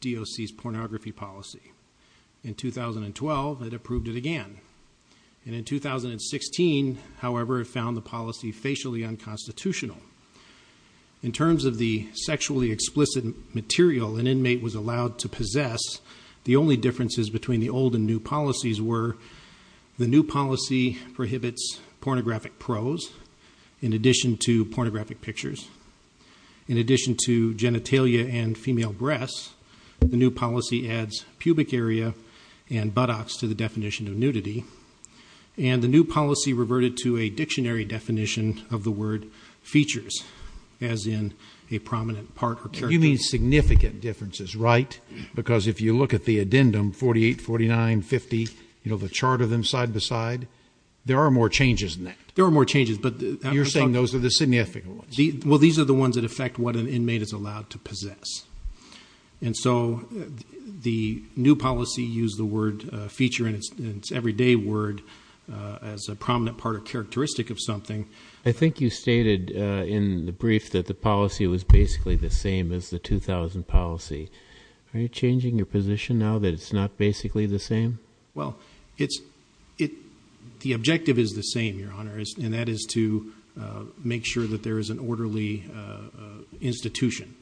D.O.C.'s pornography policy. In 2012, it approved it again. In 2016, however, it found the policy facially unconstitutional. In terms of the sexually explicit material, an inmate was allowed to possess, the only differences between the old and new policies were the new policy prohibits pornographic prose, in addition to pornographic pictures. In addition to genitalia and female breasts, the new policy adds pubic area and buttocks to the definition of nudity. And the new policy reverted to a dictionary definition of the word features, as in a prominent part or characteristic. You mean significant differences, right? Because if you look at the addendum 48, 49, 50, you know, the chart of them side by side, there are more changes than that. There are more changes, but... You're saying those are the significant ones. Well, these are the ones that affect what an inmate is allowed to possess. And so the new policy used the word feature in its everyday word as a prominent part or in the brief that the policy was basically the same as the 2000 policy. Are you changing your position now that it's not basically the same? Well, it's... The objective is the same, Your Honor, and that is to make sure that there is an orderly institution.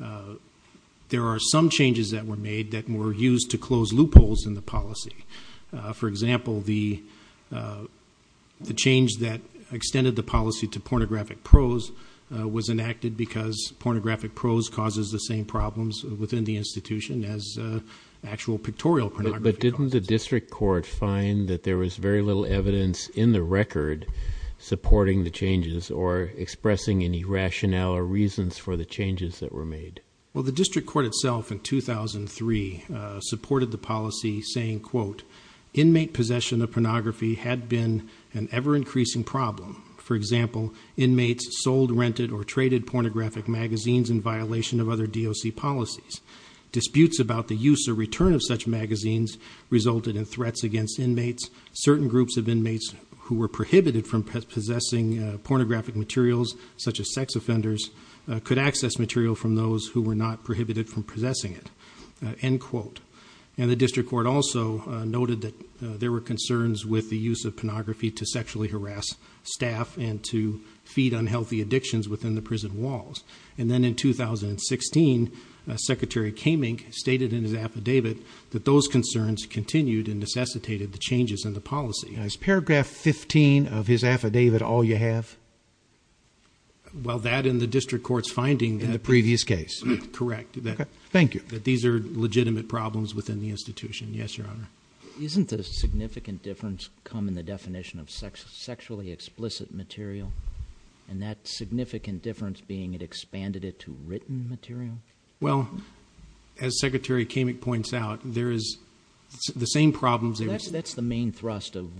There are some changes that were made that were used to close loopholes in the policy. For example, the change that extended the policy to pornographic prose was enacted because pornographic prose causes the same problems within the institution as actual pictorial pornography causes. But didn't the district court find that there was very little evidence in the record supporting the changes or expressing any rationale or reasons for the changes that were made? Well, the district court itself in 2003 supported the policy saying, quote, Inmate possession of pornography had been an ever-increasing problem. For example, inmates sold, rented, or traded pornographic magazines in violation of other DOC policies. Disputes about the use or return of such magazines resulted in threats against inmates. Certain groups of inmates who were prohibited from possessing pornographic materials, such as sex offenders, could access material from those who were not prohibited from possessing it. End quote. And the district court also noted that there were concerns with the use of pornography to sexually harass staff and to feed unhealthy addictions within the prison walls. And then in 2016, Secretary Kamenk stated in his affidavit that those concerns continued and necessitated the changes in the policy. Is paragraph 15 of his affidavit all you have? Well, that and the district court's finding in the previous case. Correct. Thank you. That these are legitimate problems within the institution. Yes, Your Honor. Isn't the significant difference come in the definition of sexually explicit material? And that significant difference being it expanded it to written material? Well, as Secretary Kamenk points out, there is the same problems. That's the main thrust of,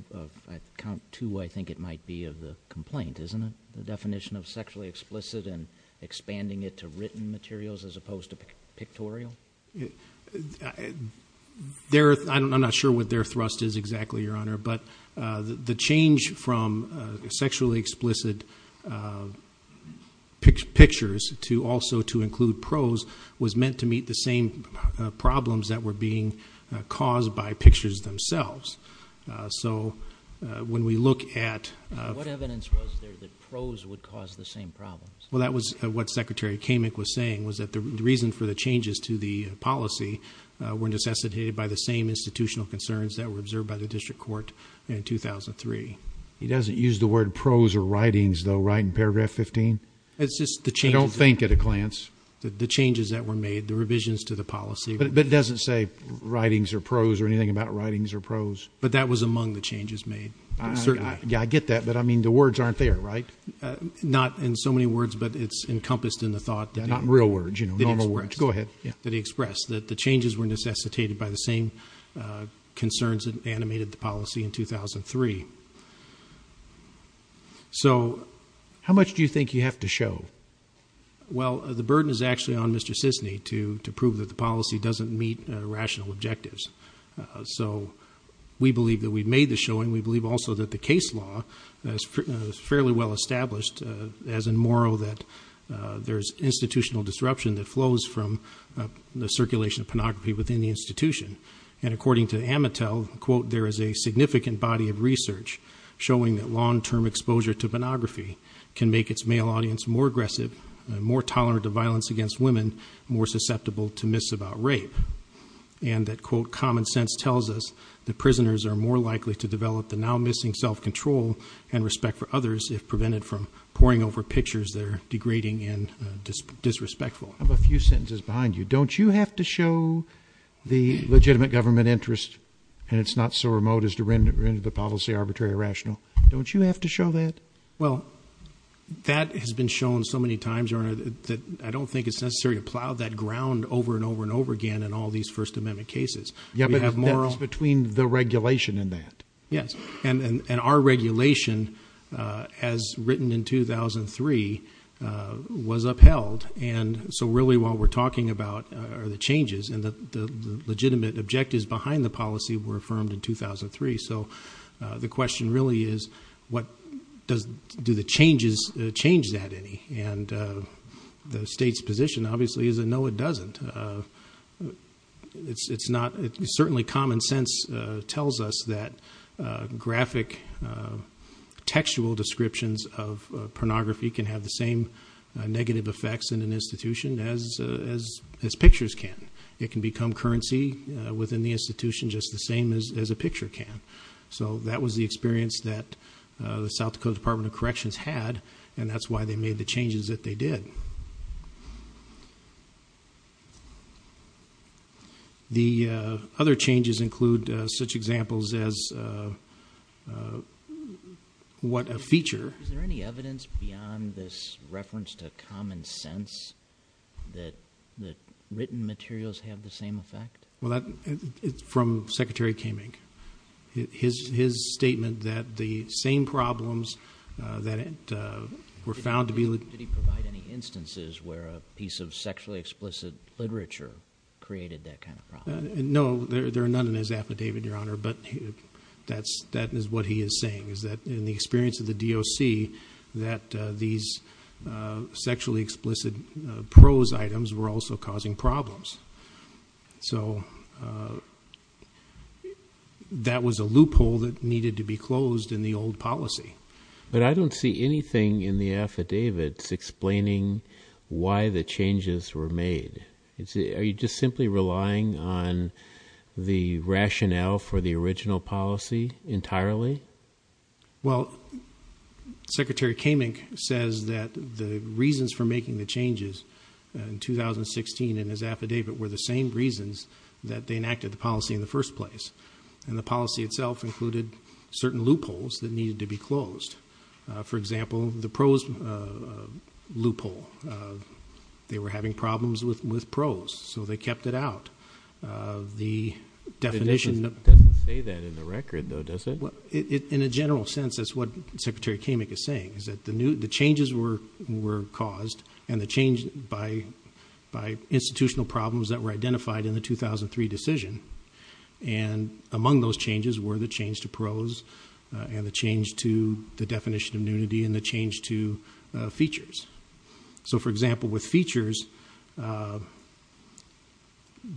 at count two, I think it might be, of the complaint, isn't it? The definition of sexually explicit and expanding it to written materials as opposed to pictorial? I'm not sure what their thrust is exactly, Your Honor, but the change from sexually explicit pictures to also to include prose was meant to meet the same problems that were being caused by pictures themselves. So, when we look at... What evidence was there that prose would cause the same problems? Well, that was what Secretary Kamenk was saying, was that the reason for the changes to the policy were necessitated by the same institutional concerns that were observed by the district court in 2003. He doesn't use the word prose or writings, though, right, in paragraph 15? It's just the changes... I don't think at a glance. The changes that were made, the revisions to the policy... But it doesn't say writings or prose or anything about writings or prose? But that was among the changes made. Certainly. Yeah, I get that, but I mean, the words aren't there, right? Not in so many words, but it's encompassed in the thought that... Not real words, you know, normal words. Go ahead. That he expressed, that the changes were necessitated by the same concerns that animated the policy in 2003. So, how much do you think you have to show? Well, the burden is actually on Mr. Sisny to prove that the policy doesn't meet rational objectives. So, we believe that we've made the showing. We believe also that the established, as in Morrow, that there's institutional disruption that flows from the circulation of pornography within the institution. And according to Amatel, quote, there is a significant body of research showing that long-term exposure to pornography can make its male audience more aggressive, more tolerant of violence against women, more susceptible to myths about rape. And that, quote, common sense tells us that prisoners are more likely to develop the now-missing self-control and respect for others if prevented from poring over pictures that are degrading and disrespectful. I have a few sentences behind you. Don't you have to show the legitimate government interest, and it's not so remote as to render the policy arbitrary or rational? Don't you have to show that? Well, that has been shown so many times, Your Honor, that I don't think it's necessary to plow that ground over and over and over again in all these First Amendment cases. We have Morrow... Yeah, but that's between the regulation and that. Yes, and our regulation, as written in 2003, was upheld. And so really what we're talking about are the changes, and the legitimate objectives behind the policy were affirmed in 2003. So the question really is, do the changes change that any? And the change tells us that graphic textual descriptions of pornography can have the same negative effects in an institution as pictures can. It can become currency within the institution just the same as a picture can. So that was the experience that the South Dakota Department of Corrections had, and that's why they made the changes that they did. The other changes include such examples as what a feature... Is there any evidence beyond this reference to common sense that written materials have the same effect? Well, that's from Secretary Kamenk. His statement that the same problems that were found to be... Did he provide any instances where a piece of sexually explicit literature created that kind of problem? No, there are none in his affidavit, Your Honor, but that is what he is saying, is that in the experience of the DOC that these sexually explicit prose items were also causing problems. So that was a loophole that needed to be closed in the old policy. But I don't see anything in the affidavits explaining why the changes were made. Are you just simply relying on the rationale for the original policy entirely? Well, Secretary Kamenk says that the reasons for making the changes in 2016 in his affidavit were the same reasons that they enacted the policy in the first place. And the policy itself included certain loopholes that needed to be closed. For example, the prose loophole. They were having problems with prose, so they were having problems with prose. And the definition... It doesn't say that in the record, though, does it? In a general sense, that's what Secretary Kamenk is saying, is that the changes were caused by institutional problems that were identified in the 2003 decision. And among those changes were the change to prose, and the change to the definition of nudity, and the change to features. So, for example, with features, the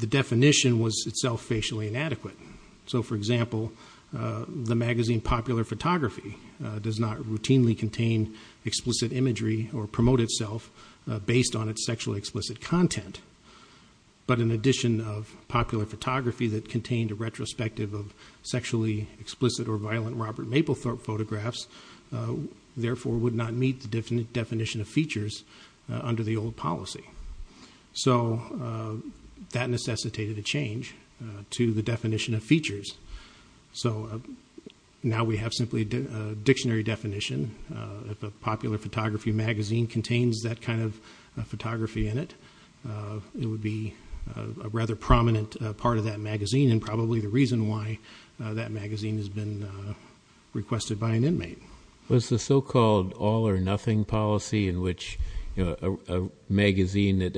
definition was itself fairly racially inadequate. So, for example, the magazine Popular Photography does not routinely contain explicit imagery or promote itself based on its sexually explicit content. But in addition of Popular Photography that contained a retrospective of sexually explicit or violent Robert Mapplethorpe photographs, therefore would not meet the definition of features under the old policy. So that necessitated a change to the definition of features. So now we have simply a dictionary definition. If a Popular Photography magazine contains that kind of photography in it, it would be a rather prominent part of that magazine and probably the reason why that magazine has been requested by an inmate. Was the so-called all-or-nothing policy in which a magazine that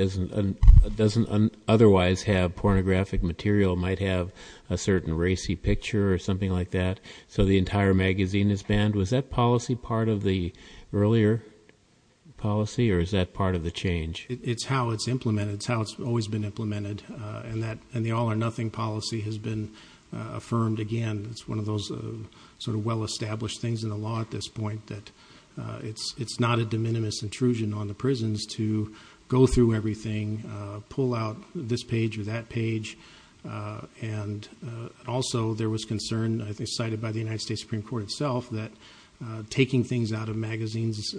doesn't otherwise have pornographic material might have a certain racy picture or something like that, so the entire magazine is banned, was that policy part of the earlier policy or is that part of the change? It's how it's implemented. It's how it's always been implemented. And the all-or-nothing policy has been affirmed again. It's one of those sort of well-established things in the law at this point that it's not a de minimis intrusion on the prisons to go through everything, pull out this page or that page. And also there was concern, I think cited by the United States Supreme Court itself, that taking things out of magazines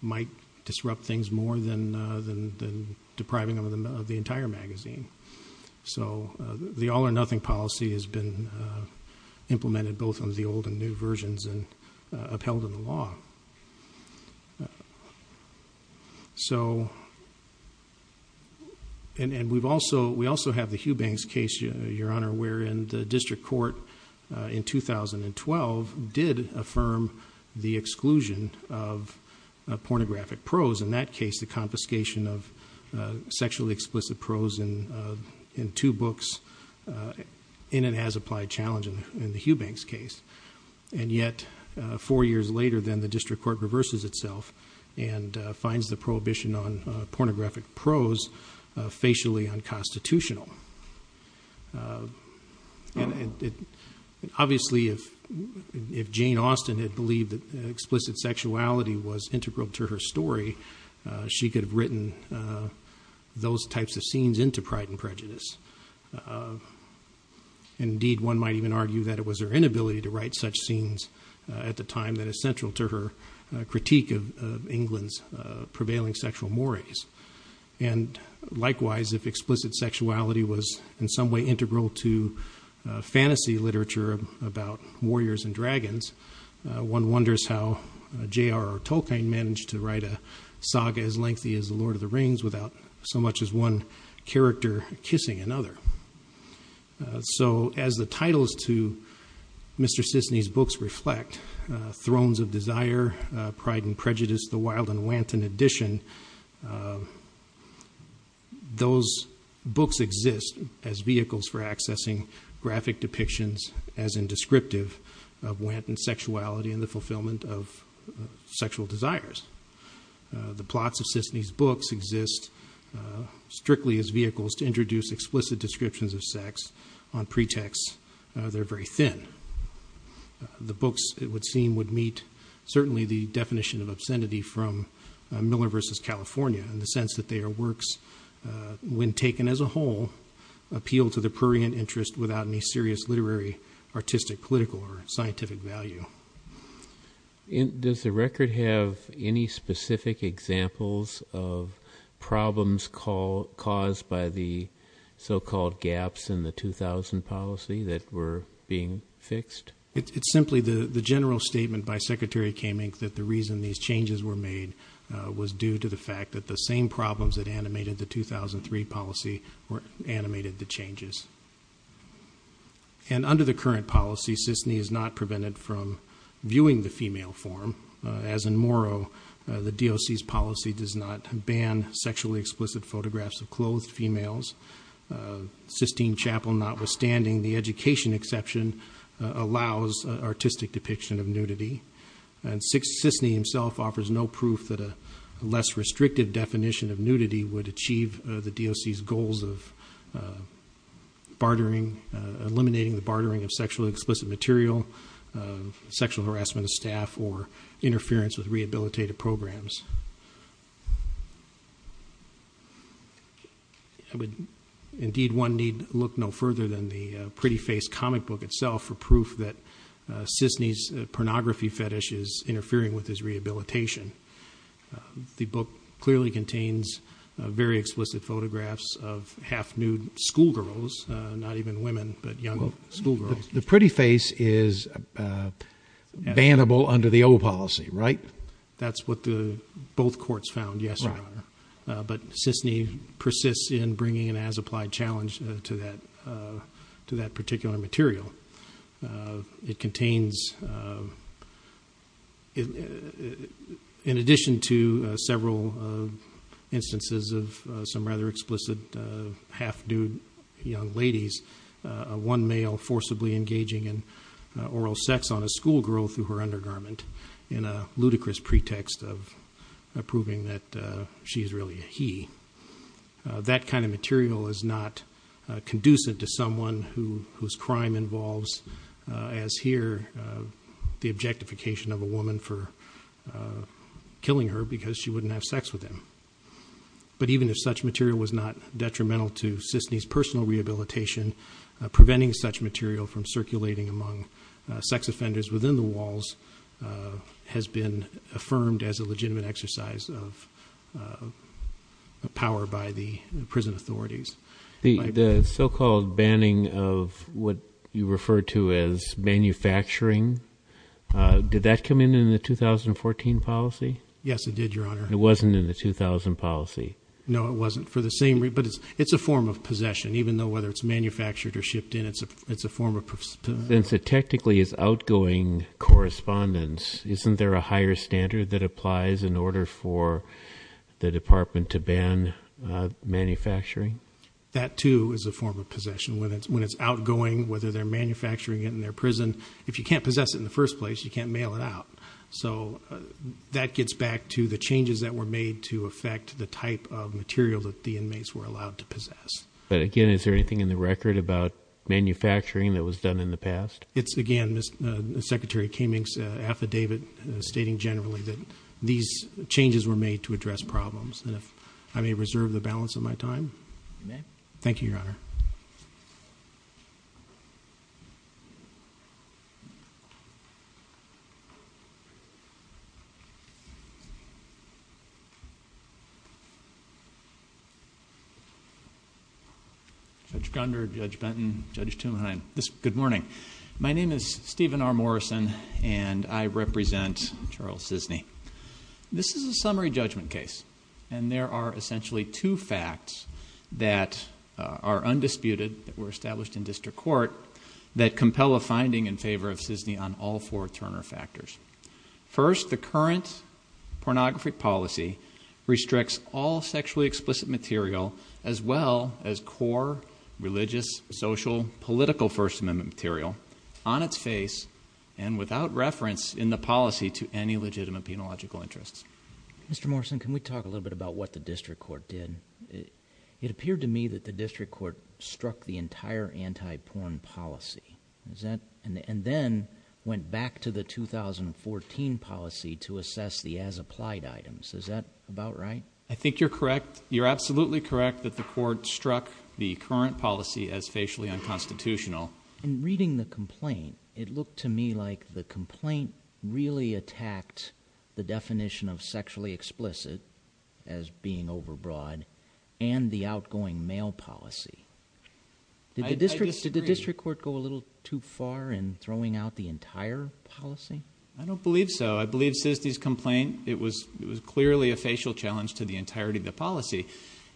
might disrupt things more than depriving them of the entire magazine. So the all-or-nothing policy has been implemented both on the old and new versions and upheld in the law. And we've also, we also have the Hugh Banks case, Your Honor, wherein the district court in 2012 did affirm the exclusion of pornographic prose. In that case, the confiscation of the sexually explicit prose in two books in and as applied challenge in the Hugh Banks case. And yet four years later, then the district court reverses itself and finds the prohibition on pornographic prose facially unconstitutional. And obviously if Jane Austen had believed that explicit sexuality was integral to her story, she could have written those types of scenes into Pride and Prejudice. Indeed, one might even argue that it was her inability to write such scenes at the time that is central to her critique of England's prevailing sexual mores. And likewise, if explicit sexuality was in some way integral to fantasy literature about warriors and dragons, one wonders how J.R.R. Tolkien managed to write a saga as lengthy as The Lord of the Rings without so much as one character kissing another. So as the titles to Mr. Sisney's books reflect, Thrones of Desire, Pride and Prejudice, The Wild and Wanton Edition, those books exist as vehicles for accessing graphic depictions as in descriptive of wanton sexuality and the fulfillment of sexual desires. The plots of Sisney's books exist strictly as vehicles to introduce explicit descriptions of sex on pretexts that are very thin. The books, it would seem, would meet certainly the definition of obscenity from Miller versus California in the sense that their works, when taken as a whole, appeal to the prurient interest without any serious literary, artistic, political, or scientific value. Does the record have any specific examples of problems caused by the so-called gaps in the 2000 policy that were being fixed? It's simply the general statement by Secretary Kamenk that the reason these changes were made was due to the fact that the same problems that animated the 2003 policy animated the changes. And under the current policy, Sisney is not prevented from viewing the female form. As in Morrow, the DOC's policy does not ban sexually explicit photographs of clothed females. Sistine Chapel notwithstanding, the education exception allows artistic depiction of nudity. And Sisney himself offers no proof that a less restrictive definition of nudity would achieve the DOC's goals of eliminating the bartering of sexually explicit material, sexual harassment of staff, or interference with rehabilitative programs. Indeed, one need look no further than the Pretty Face comic book itself for proof that Sisney's pornography fetish is interfering with his rehabilitation. The book clearly contains very explicit photographs of half-nude schoolgirls, not even women, but young schoolgirls. The Pretty Face is bannable under the O policy, right? That's what both courts found, yes, Your Honor. But Sisney persists in bringing an as-applied challenge to that particular material. It contains, in addition to several instances of some rather explicit half-nude young ladies, one male forcibly engaging in oral sex on a schoolgirl through her undergarment in a ludicrous pretext of proving that she is really he. That kind of material is not conducive to someone whose crime involves, as here, the objectification of a woman for killing her because she wouldn't have sex with him. But even if such material was not detrimental to Sisney's personal rehabilitation, preventing such material from circulating among sex offenders within the walls has been affirmed as a legitimate exercise of power by the prison authorities. The so-called banning of what you refer to as manufacturing, did that come in in the 2014 policy? Yes, it did, Your Honor. It wasn't in the 2000 policy? No, it wasn't. But it's a form of possession, even though whether it's manufactured or shipped in it's a form of possession. So technically, as outgoing correspondents, isn't there a higher standard that applies in order for the department to ban manufacturing? That too is a form of possession. When it's outgoing, whether they're manufacturing it in their prison, if you can't possess it in the first place, you can't mail it out. So that gets back to the changes that were made to affect the type of material that the inmates were allowed to possess. But again, is there anything in the record about manufacturing that was done in the past? It's again, Secretary Kamenk's affidavit stating generally that these changes were made to address problems. And if I may reserve the balance of my time. Thank you, Your Honor. Judge Gunder, Judge Benton, Judge Tumheim, good morning. My name is Stephen R. Morrison and I represent Charles Sisney. This is a summary judgment case. And there are essentially two facts that are undisputed, that were established in district court, that compel a finding in favor of Sisney on all four Turner factors. First, the current pornography policy restricts all sexually explicit material, as well as core religious, social, political First Amendment material on its face and without reference in the policy to any legitimate penological interests. Mr. Morrison, can we talk a little bit about what the district court did? It appeared to me that the district court struck the entire anti-porn policy. And then went back to the 2014 policy to assess the as-applied items. Is that about right? I think you're correct. You're absolutely correct that the court struck the current policy as facially unconstitutional. In reading the complaint, it looked to me like the complaint really attacked the definition of sexually explicit as being overbroad and the outgoing male policy. Did the district court go a little too far in throwing out the entire policy? I don't believe so. I believe Sisney's complaint, it was clearly a facial challenge to the entirety of the policy.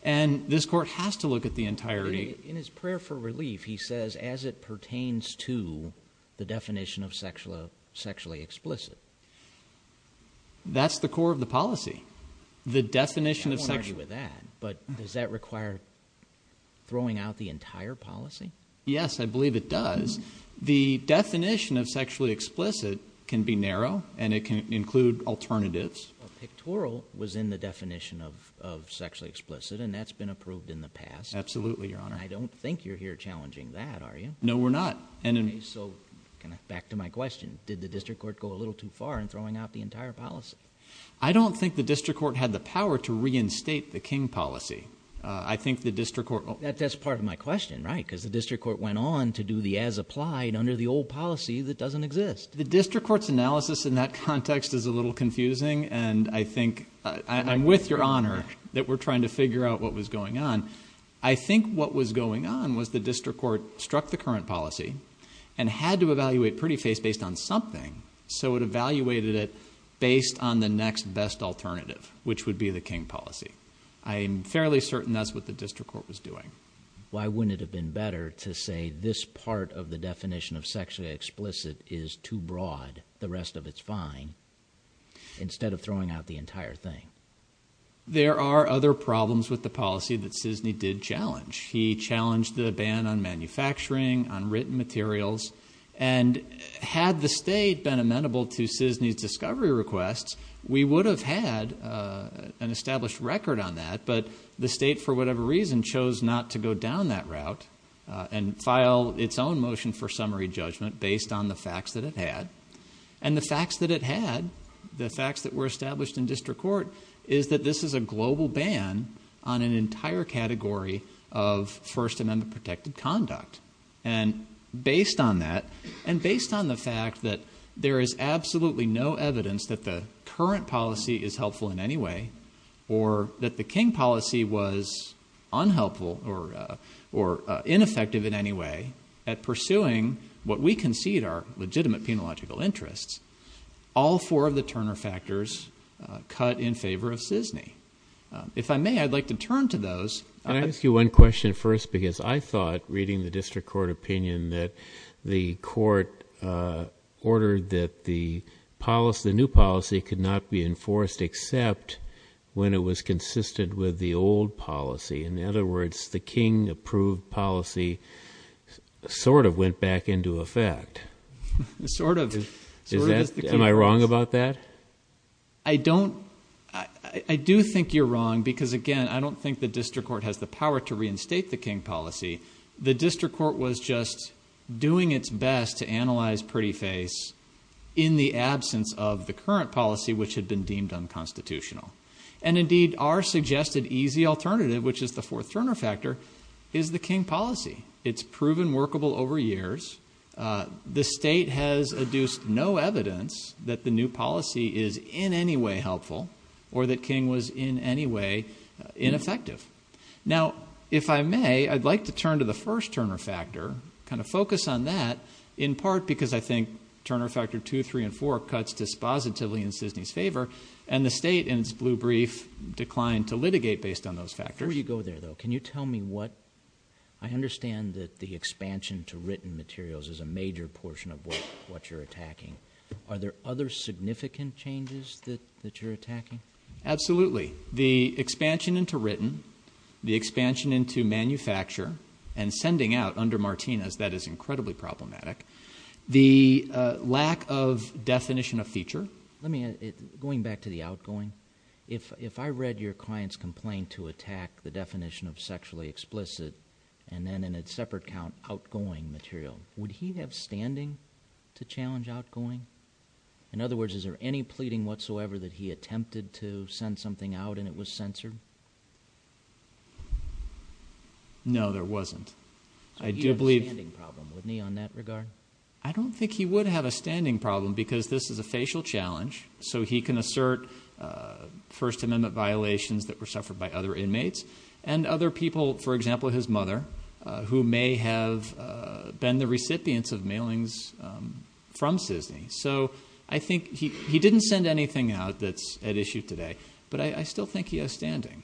And this court has to look at the entirety. In his prayer for relief, he says, as it pertains to the definition of sexually explicit. That's the core of the policy. The definition of sexually explicit. I won't argue with that. But does that require throwing out the entire policy? Yes, I believe it does. The definition of sexually explicit can be narrow and it can include alternatives. Pictorial was in the definition of sexually explicit and that's been approved in the past. Absolutely, Your Honor. I don't think you're here challenging that, are you? No, we're not. Okay, so back to my question. Did the district court go a little too far in throwing out the entire policy? I don't think the district court had the power to reinstate the King policy. I think the district court... That's part of my question, right? Because the district court went on to do the as applied under the old policy that doesn't exist. The district court's analysis in that context is a little confusing and I think... I'm with Your Honor that we're trying to figure out what was going on. I think what was going on was the district court struck the current policy and had to evaluate pretty face based on something. So it evaluated it based on the next best alternative, which would be the King policy. I'm fairly certain that's what the district court was doing. Why wouldn't it have been better to say this part of the definition of sexually explicit is too broad, the rest of it's fine, instead of throwing out the entire thing? There are other problems with the policy that Cisney did challenge. He challenged the ban on manufacturing, on written materials, and had the state been amenable to Cisney's discovery requests, we would have had an established record on that, but the state for whatever reason chose not to go down that route and file its own motion for summary judgment based on the facts that it had. And the facts that it had, the facts that were established in district court, is that this is a global ban on an entire category of First Amendment protected conduct. And based on that, and based on the fact that there is absolutely no evidence that the current policy is helpful in any way, or that the King policy was unhelpful or ineffective in any way at pursuing what we concede are legitimate penological interests, all four of the Turner factors cut in favor of Cisney. If I may, I'd like to turn to those. Can I ask you one question first? Because I thought, reading the district court opinion, that the court ordered that the policy, the new policy, could not be enforced except when it was consistent with the old policy. In other words, the King approved policy sort of went back into effect. Sort of. Am I wrong about that? I don't, I do think you're wrong, because again, I don't think the district court has the power to reinstate the King policy. The district court was just doing its best to analyze pretty face in the absence of the current policy, which had been deemed unconstitutional. And indeed, our suggested easy alternative, which is the fourth Turner factor, is the King policy. It's proven workable over years. The state has adduced no evidence that the new policy is in any way helpful, or that King was in any way ineffective. Now, if I may, I'd like to turn to the first Turner factor, kind of focus on that, in part because I think Turner factor two, three, and four cuts dispositively in Cisney's favor, and the state, in its blue brief, declined to litigate based on those factors. Before you go there, though, can you tell me what, I understand that the expansion to significant changes that you're attacking? Absolutely. The expansion into written, the expansion into manufacture, and sending out under Martinez, that is incredibly problematic. The lack of definition of feature. Let me, going back to the outgoing, if I read your client's complaint to attack the definition of sexually explicit, and then in a separate count, outgoing material, would he have standing to challenge outgoing? In other words, is there any pleading whatsoever that he attempted to send something out, and it was censored? No, there wasn't. I do believe... So he had a standing problem, wouldn't he, on that regard? I don't think he would have a standing problem, because this is a facial challenge, so he can assert First Amendment violations that were suffered by other inmates, and other from CISNY. So I think he didn't send anything out that's at issue today, but I still think he has standing.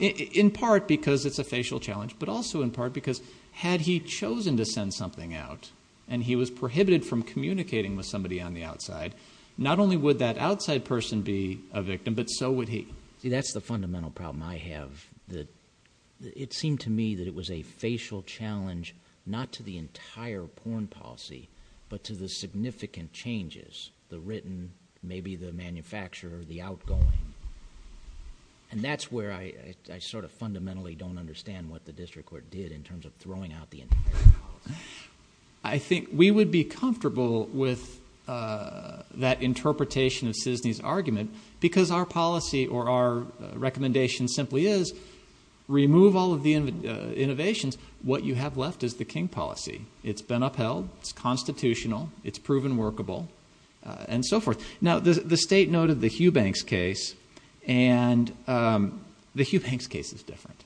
In part because it's a facial challenge, but also in part because had he chosen to send something out, and he was prohibited from communicating with somebody on the outside, not only would that outside person be a victim, but so would he. That's the fundamental problem I have. It seemed to me that it was a facial challenge, not to the entire porn policy, but to the significant changes, the written, maybe the manufacturer, the outgoing. And that's where I sort of fundamentally don't understand what the district court did in terms of throwing out the entire policy. I think we would be comfortable with that interpretation of CISNY's argument, because our policy, or our recommendation simply is, remove all of the innovations. What you have left is the King policy. It's been upheld, it's constitutional, it's proven workable, and so forth. Now the state noted the Hugh Banks case, and the Hugh Banks case is different.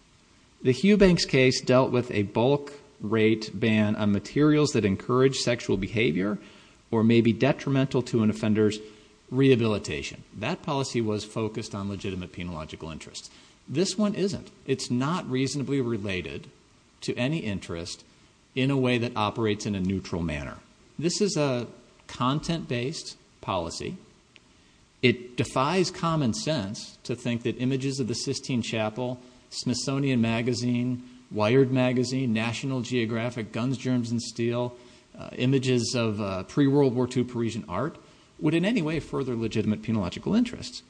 The Hugh Banks case dealt with a bulk rate ban on materials that encourage sexual behavior, or may be detrimental to an offender's rehabilitation. That policy was focused on legitimate penological interests. This one isn't. It's not reasonably related to any interest in a way that operates in a neutral manner. This is a content-based policy. It defies common sense to think that images of the Sistine Chapel, Smithsonian Magazine, Wired Magazine, National Geographic, Guns, Germs, and Steel, images of pre-World War II Parisian art, would in any way further legitimate penological interests.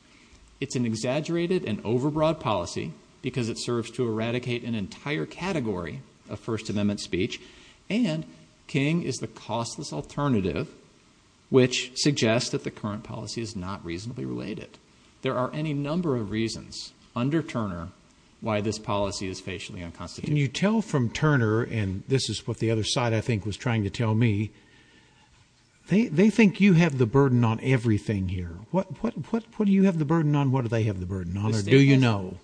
It's an exaggerated and over-broad policy, because it serves to eradicate an entire category of First Amendment speech, and King is the costless alternative, which suggests that the current policy is not reasonably related. There are any number of reasons, under Turner, why this policy is facially unconstitutional. You tell from Turner, and this is what the other side I think was trying to tell me, they think you have the burden on everything here. What do you have the burden on, what do they have the burden on, or do you know?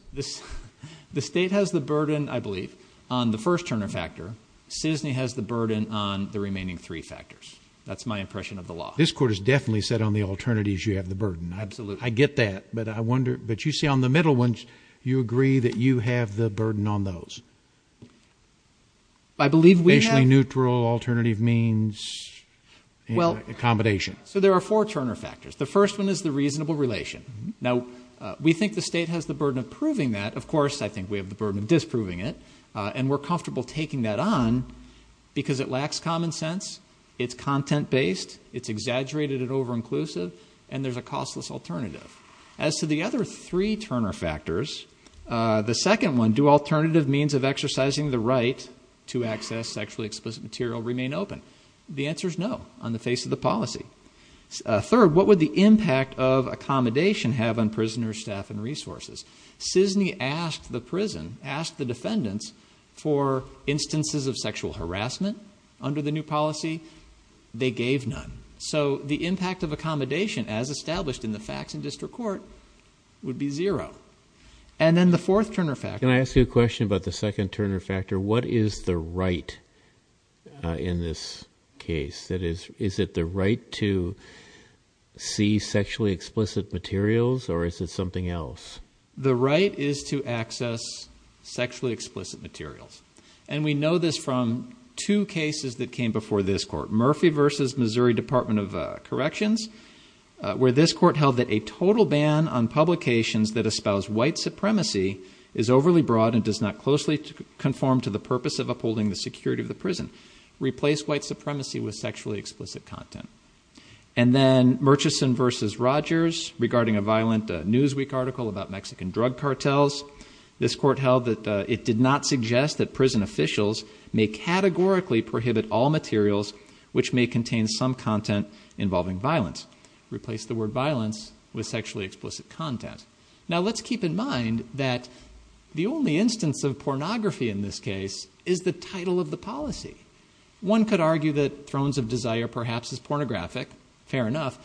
The state has the burden, I believe, on the first Turner factor. Citizeny has the burden on the remaining three factors. That's my impression of the law. This Court has definitely said on the alternatives you have the burden. Absolutely. I get that, but I wonder, but you see on the middle ones, you agree that you have the burden on those. Facially neutral alternative means accommodation. So there are four Turner factors. The first one is the reasonable relation. Now, we think the state has the burden of proving that. Of course, I think we have the burden of disproving it, and we're comfortable taking that on, because it lacks common sense, it's content-based, it's exaggerated and over-inclusive, and there's a costless alternative. As to the other three Turner factors, the second one, do alternative means of exercising the right to access sexually explicit material remain open? The answer is no, on the face of the policy. Third, what would the impact of accommodation have on prisoners, staff and resources? Citizeny asked the prison, asked the defendants for instances of sexual harassment under the new policy. They gave none. So the impact of accommodation as established in the facts in district court would be zero. And then the fourth Turner factor. Can I ask you a question about the second Turner factor? What is the right in this case? Is it the right to see sexually explicit materials, or is it something else? The right is to access sexually explicit materials. And we know this from two cases that came before this court, Murphy v. Missouri Department of Corrections, where this court held that a total ban on publications that espouse white supremacy is overly broad and does not closely conform to the purpose of upholding the security of the prison. Replace white supremacy with sexually explicit content. And then Murchison v. Rogers, regarding a violent Newsweek article about Mexican drug cartels. This court held that it did not suggest that prison officials may categorically prohibit all materials which may contain some content involving violence. Replace the word violence with sexually explicit content. Now let's keep in mind that the only instance of pornography in this case is the title of the policy. One could argue that Thrones of Desire perhaps is pornographic. Fair enough.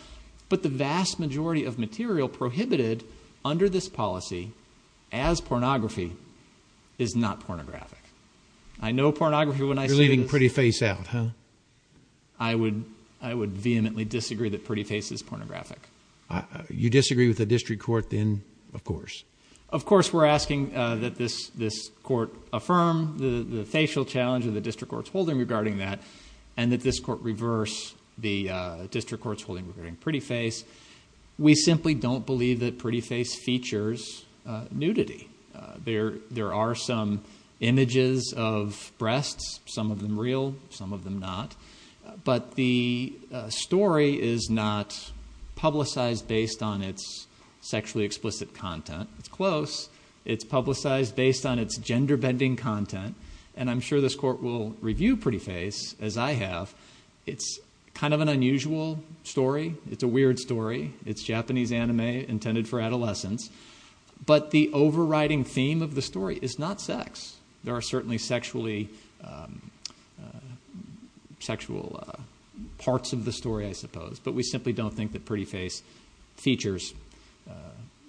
But the vast majority of material prohibited under this policy as pornography is not pornographic. I know pornography when I see it. You're leaving pretty face out, huh? I would vehemently disagree that pretty face is pornographic. You disagree with the district court then, of course? Of course we're asking that this court affirm the facial challenge of the district court's holding regarding that, and that this court reverse the district court's holding regarding pretty face. We simply don't believe that pretty face features nudity. There are some images of breasts, some of them real, some of them not. But the story is not publicized based on its sexually explicit content. It's close. It's publicized based on its gender bending content. And I'm sure this court will review pretty face as I have. It's kind of an unusual story. It's a weird story. It's Japanese anime intended for adolescents. But the overriding theme of the story is not sex. There are certainly sexually sexual parts of the story, I suppose. But we simply don't think that pretty face features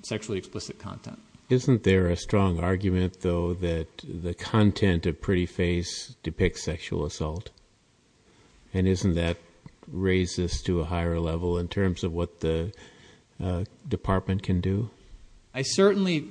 sexually explicit content. Isn't there a strong argument, though, that the content of pretty face depicts sexual assault? And isn't that racist to a higher level in terms of what the department can do? I certainly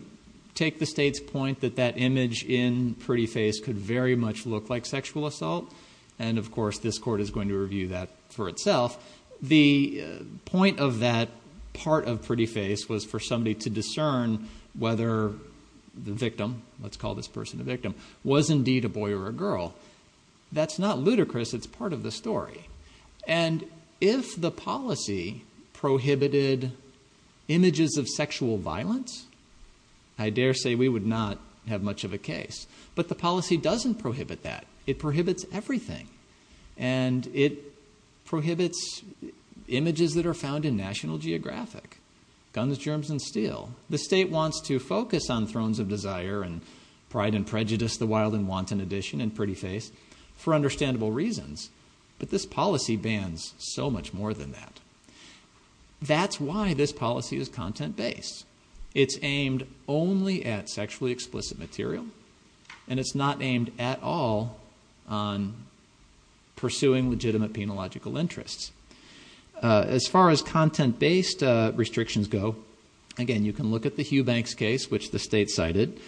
take the state's point that that image in pretty face could very much look like sexual assault. And of course, this court is going to review that for itself. The point of that part of pretty face was for somebody to discern whether the victim, let's call this person a victim, was indeed a boy or a girl. That's not ludicrous. It's part of the story. And if the policy prohibited images of sexual violence, I dare say we would not have much of a case. But the policy doesn't prohibit that. It prohibits everything. And it prohibits images that are found in National Geographic, guns, germs, and steel. The state wants to focus on thrones of desire and pride and prejudice, the wild and wanton edition in pretty face, for understandable reasons. But this policy bans so much more than that. That's why this policy is content-based. It's aimed only at sexually explicit material. And it's not aimed at all on pursuing legitimate penological interests. As far as content-based restrictions go, again, you can look at the Hugh Banks case, which the state cited.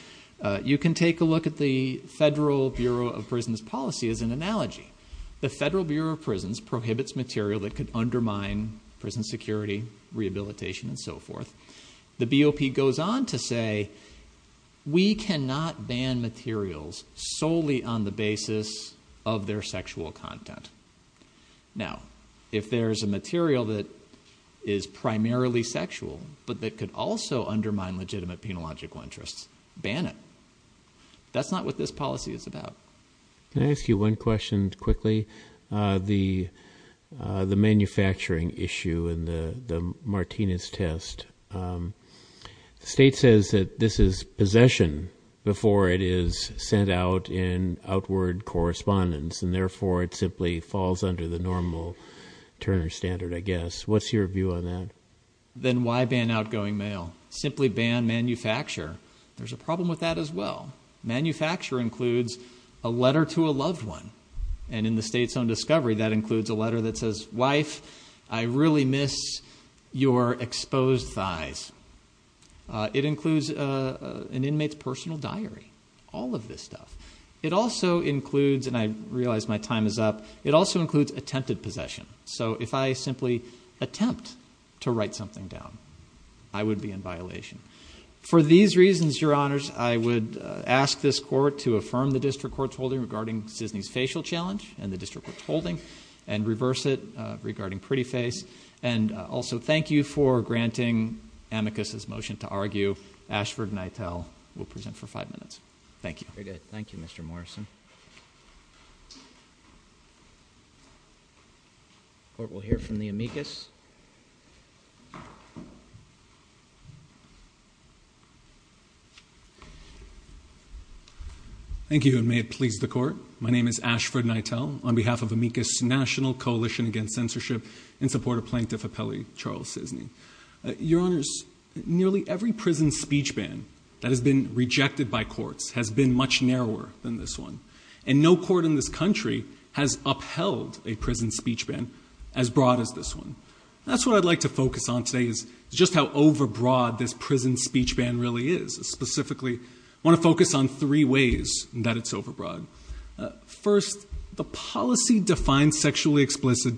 You can take a look at the Federal Bureau of Prisons policy as an analogy. The Federal Bureau of Prisons prohibits material that could undermine prison security, rehabilitation, and so forth. The BOP goes on to say, we cannot ban materials solely on the basis of their sexual content. Now, if there's a material that is primarily sexual but that could also undermine legitimate penological interests, ban it. That's not what this policy is about. Can I ask you one question quickly? The manufacturing issue and the Martinez test, the state says that this is possession before it is sent out in outward correspondence, and therefore it simply falls under the normal Turner standard, I guess. What's your view on that? Then why ban outgoing mail? Simply ban manufacture. There's a problem with that as well. Manufacture includes a letter to a loved one. And in the state's own discovery, that includes a letter that says, wife, I really miss your exposed thighs. It includes an inmate's personal diary. All of this stuff. It also includes, and I realize my time is up, it also includes attempted possession. So if I simply attempt to write something down, I would be in violation. For these reasons, your honors, I would ask this court to affirm the district court's holding regarding Cisney's facial challenge and the district court's holding, and reverse it regarding pretty face. And also, thank you for granting Amicus's motion to argue. Ashford and Itell will present for five minutes. Thank you. Very good. Thank you, Mr. Morrison. The court will hear from the Amicus. Thank you, and may it please the court. My name is Ashford and Itell, on behalf of Amicus National Coalition Against Censorship, in support of Plaintiff Appellee Charles Cisney. Your honors, nearly every prison speech ban that has been rejected by courts has been much narrower than this one. And no court in this country has upheld a prison speech ban as broad as this one. That's what I'd like to focus on today, is just how overbroad this prison speech ban really is. Specifically, I want to focus on three ways that it's overbroad. First, the policy defines sexually explicit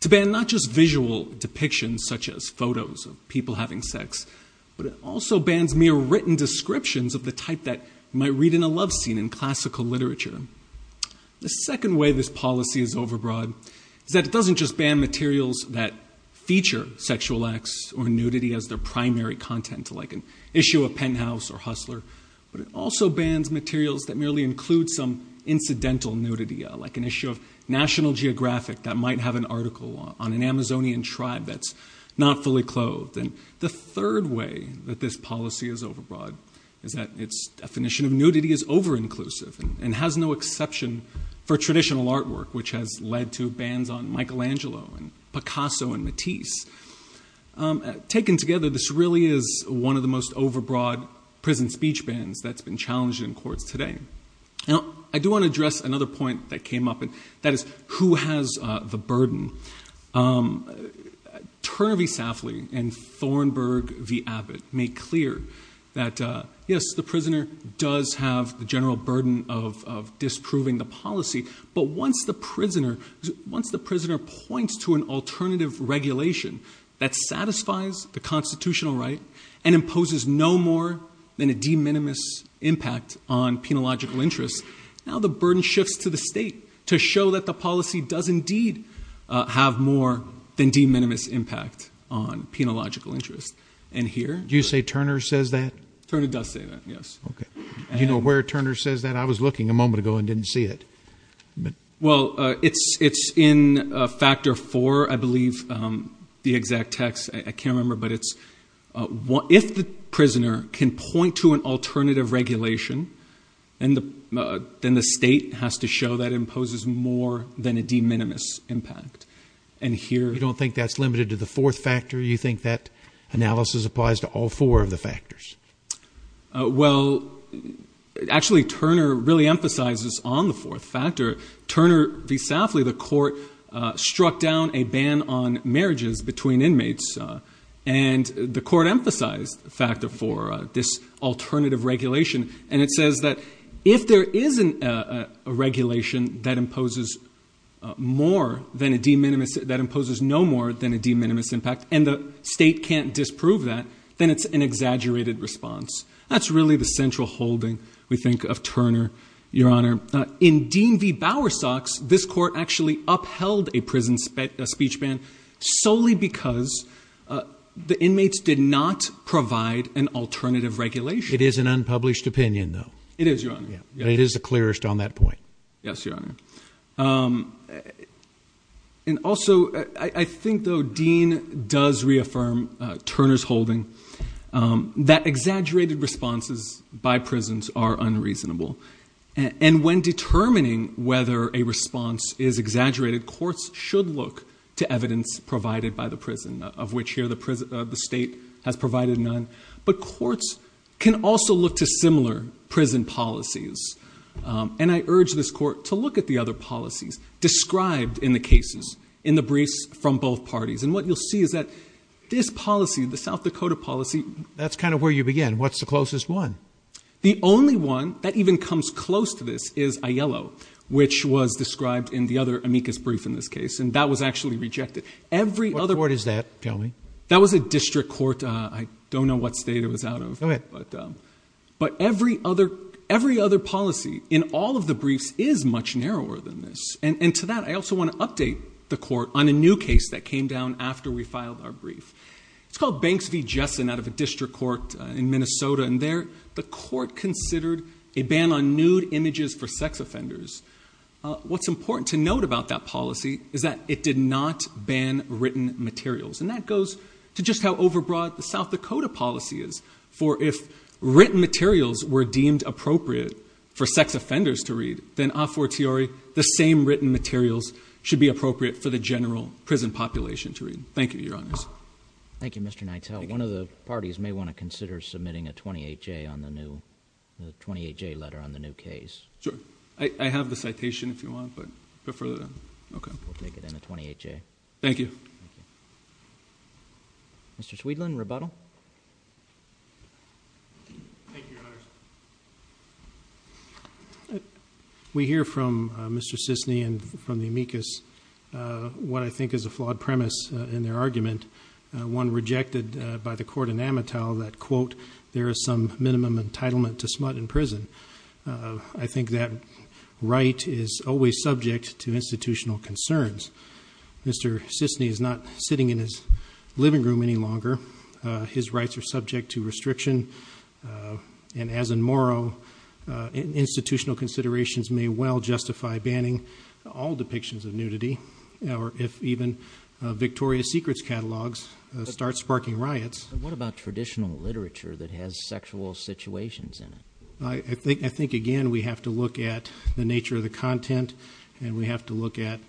to ban not just visual depictions, such as photos of people having sex, but it also bans mere written descriptions of the type that might read in a love scene in classical literature. The second way this policy is overbroad is that it doesn't just ban materials that feature sexual acts or nudity as their primary content, like an issue of Penthouse or Hustler, but it also bans materials that merely include some incidental nudity, like an issue of National Geographic that might have an article on an Amazonian tribe that's not fully clothed. And the third way that this policy is overbroad is that its definition of nudity is over-inclusive and has no exception for traditional artwork, which has led to bans on Michelangelo and Picasso and Matisse. Taken together, this really is one of the most overbroad prison speech bans that's been challenged in courts today. Now, I do want to address another point that came up, and that is, who has the burden? Turner v. Safley and Thornburg v. Abbott make clear that, yes, the prisoner does have the general burden of disproving the policy, but once the prisoner points to an alternative regulation that satisfies the constitutional right and imposes no more than a de minimis impact on penological interest, now the burden shifts to the state to show that the policy does indeed have more than de minimis impact on penological interest. And here- Do you say Turner says that? Turner does say that, yes. Okay. Do you know where Turner says that? I was looking a moment ago and didn't see it. Well, it's in Factor 4, I believe, the exact text. I can't remember, but it's, if the prisoner can point to an alternative regulation, then the state has to show that it imposes more than a de minimis impact. And here- You don't think that's limited to the fourth factor? You think that analysis applies to all four of the factors? Well, actually, Turner really emphasizes on the fourth factor. Turner v. Safley, the court struck down a ban on marriages between inmates, and the court emphasized Factor 4, this alternative regulation. And it says that if there isn't a regulation that imposes more than a de minimis, that imposes no more than a de minimis impact, and the state can't disprove that, then it's an exaggerated response. That's really the central holding, we think, of Turner, Your Honor. In Dean v. Bowersox, this court actually upheld a prison speech ban solely because the inmates did not provide an alternative regulation. It is an unpublished opinion, though. It is, Your Honor. Yeah, and it is the clearest on that point. Yes, Your Honor. And also, I think, though, Dean does reaffirm Turner's holding, that exaggerated responses by prisons are unreasonable. And when determining whether a response is exaggerated, courts should look to evidence provided by the prison, of which here the state has provided none. But courts can also look to similar prison policies, and I urge this court to look at the other policies described in the cases, in the briefs from both parties. And what you'll see is that this policy, the South Dakota policy... That's kind of where you begin. What's the closest one? The only one that even comes close to this is Aiello, which was described in the other amicus brief in this case, and that was actually rejected. What court is that, tell me? That was a district court. I don't know what state it was out of. But every other policy in all of the briefs is much narrower than this. And to that, I also want to update the court on a new case that came down after we filed our brief. It's called Banks v. Jessen out of a district court in Minnesota. And there, the court considered a ban on nude images for sex offenders. What's important to note about that policy is that it did not ban written materials. And that goes to just how overbroad the South Dakota policy is. For if written materials were deemed appropriate for sex offenders to read, then should be appropriate for the general prison population to read. Thank you, Your Honors. Thank you, Mr. Nitell. One of the parties may want to consider submitting a 28-J letter on the new case. Sure. I have the citation, if you want, but before that, okay. We'll take it in a 28-J. Thank you. Thank you. Mr. Sweedland, rebuttal. Thank you, Your Honors. We hear from Mr. Sisney and from the amicus brief that there is a flaw in the amicus. What I think is a flawed premise in their argument, one rejected by the court in Amatow that, quote, there is some minimum entitlement to smut in prison. I think that right is always subject to institutional concerns. Mr. Sisney is not sitting in his living room any longer. His rights are subject to restriction. And as in Morrow, institutional considerations may well justify banning all depictions of nudity or if even Victoria's Secrets catalogs start sparking riots. What about traditional literature that has sexual situations in it? I think, again, we have to look at the nature of the content and we have to look at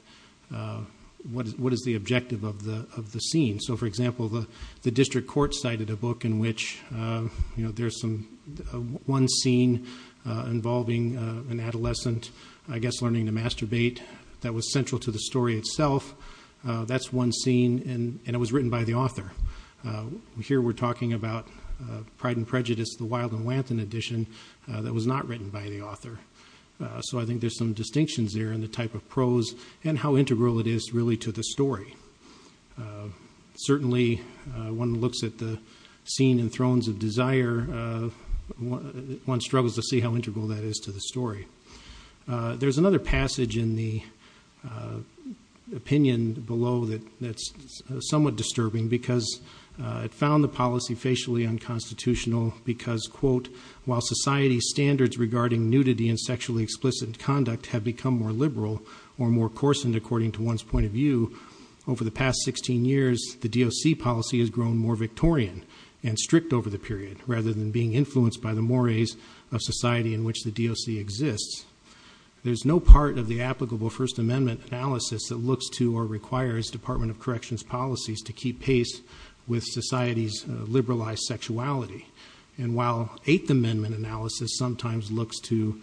what is the objective of the scene. So, for example, the district court cited a book in which there was one scene involving an adolescent, I guess, learning to masturbate that was central to the story itself. That's one scene and it was written by the author. Here we're talking about Pride and Prejudice, the Wild and Wanton edition that was not written by the author. So I think there's some distinctions there in the type of prose and how integral it is really to the story. Certainly, one looks at the scene in Thrones of Desire, one struggles to see how integral that is to the story. There's another passage in the opinion below that's somewhat disturbing because it found the policy facially unconstitutional because, quote, while society's standards regarding nudity and sexually explicit conduct have become more liberal or more coarsened according to one's point of view, over the past 16 years, the DOC policy has grown more Victorian and strict over the period rather than being influenced by the mores of society in which the DOC exists. There's no part of the applicable First Amendment analysis that looks to or requires Department of Corrections policies to keep pace with society's liberalized sexuality. And while Eighth Amendment analysis sometimes looks to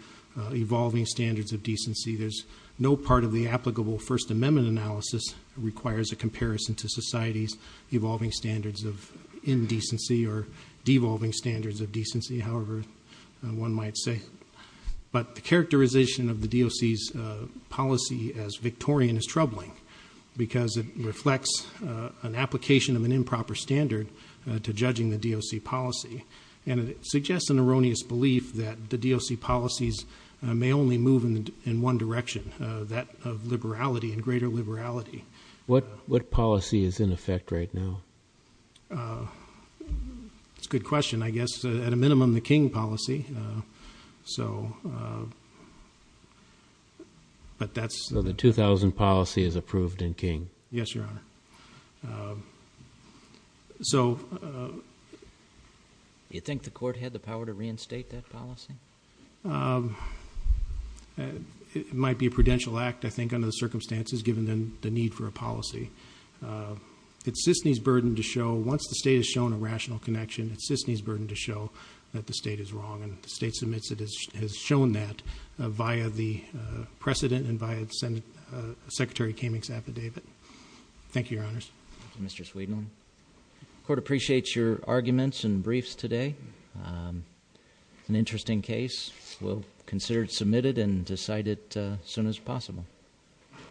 evolving standards of decency, there's no part of the applicable First Amendment analysis requires a comparison to society's evolving standards of indecency or devolving standards of decency, however one might say. But the characterization of the DOC's policy as Victorian is troubling because it reflects an application of an improper standard to judging the DOC policy. And it suggests an that of liberality and greater liberality. What policy is in effect right now? It's a good question. I guess at a minimum the King policy. So, but that's... So the 2000 policy is approved in King? Yes, Your Honor. So... Do you think the court had the power to reinstate that policy? It might be a prudential act, I think, under the circumstances given the need for a policy. It's CISNY's burden to show, once the state has shown a rational connection, it's CISNY's burden to show that the state is wrong. And the state submits it has shown that via the precedent and via Secretary Kamenk's affidavit. Thank you, Your Honors. Thank you, Mr. Sweedman. The court appreciates your arguments and briefs today. An interesting case. We'll consider it submitted and decide it as soon as possible.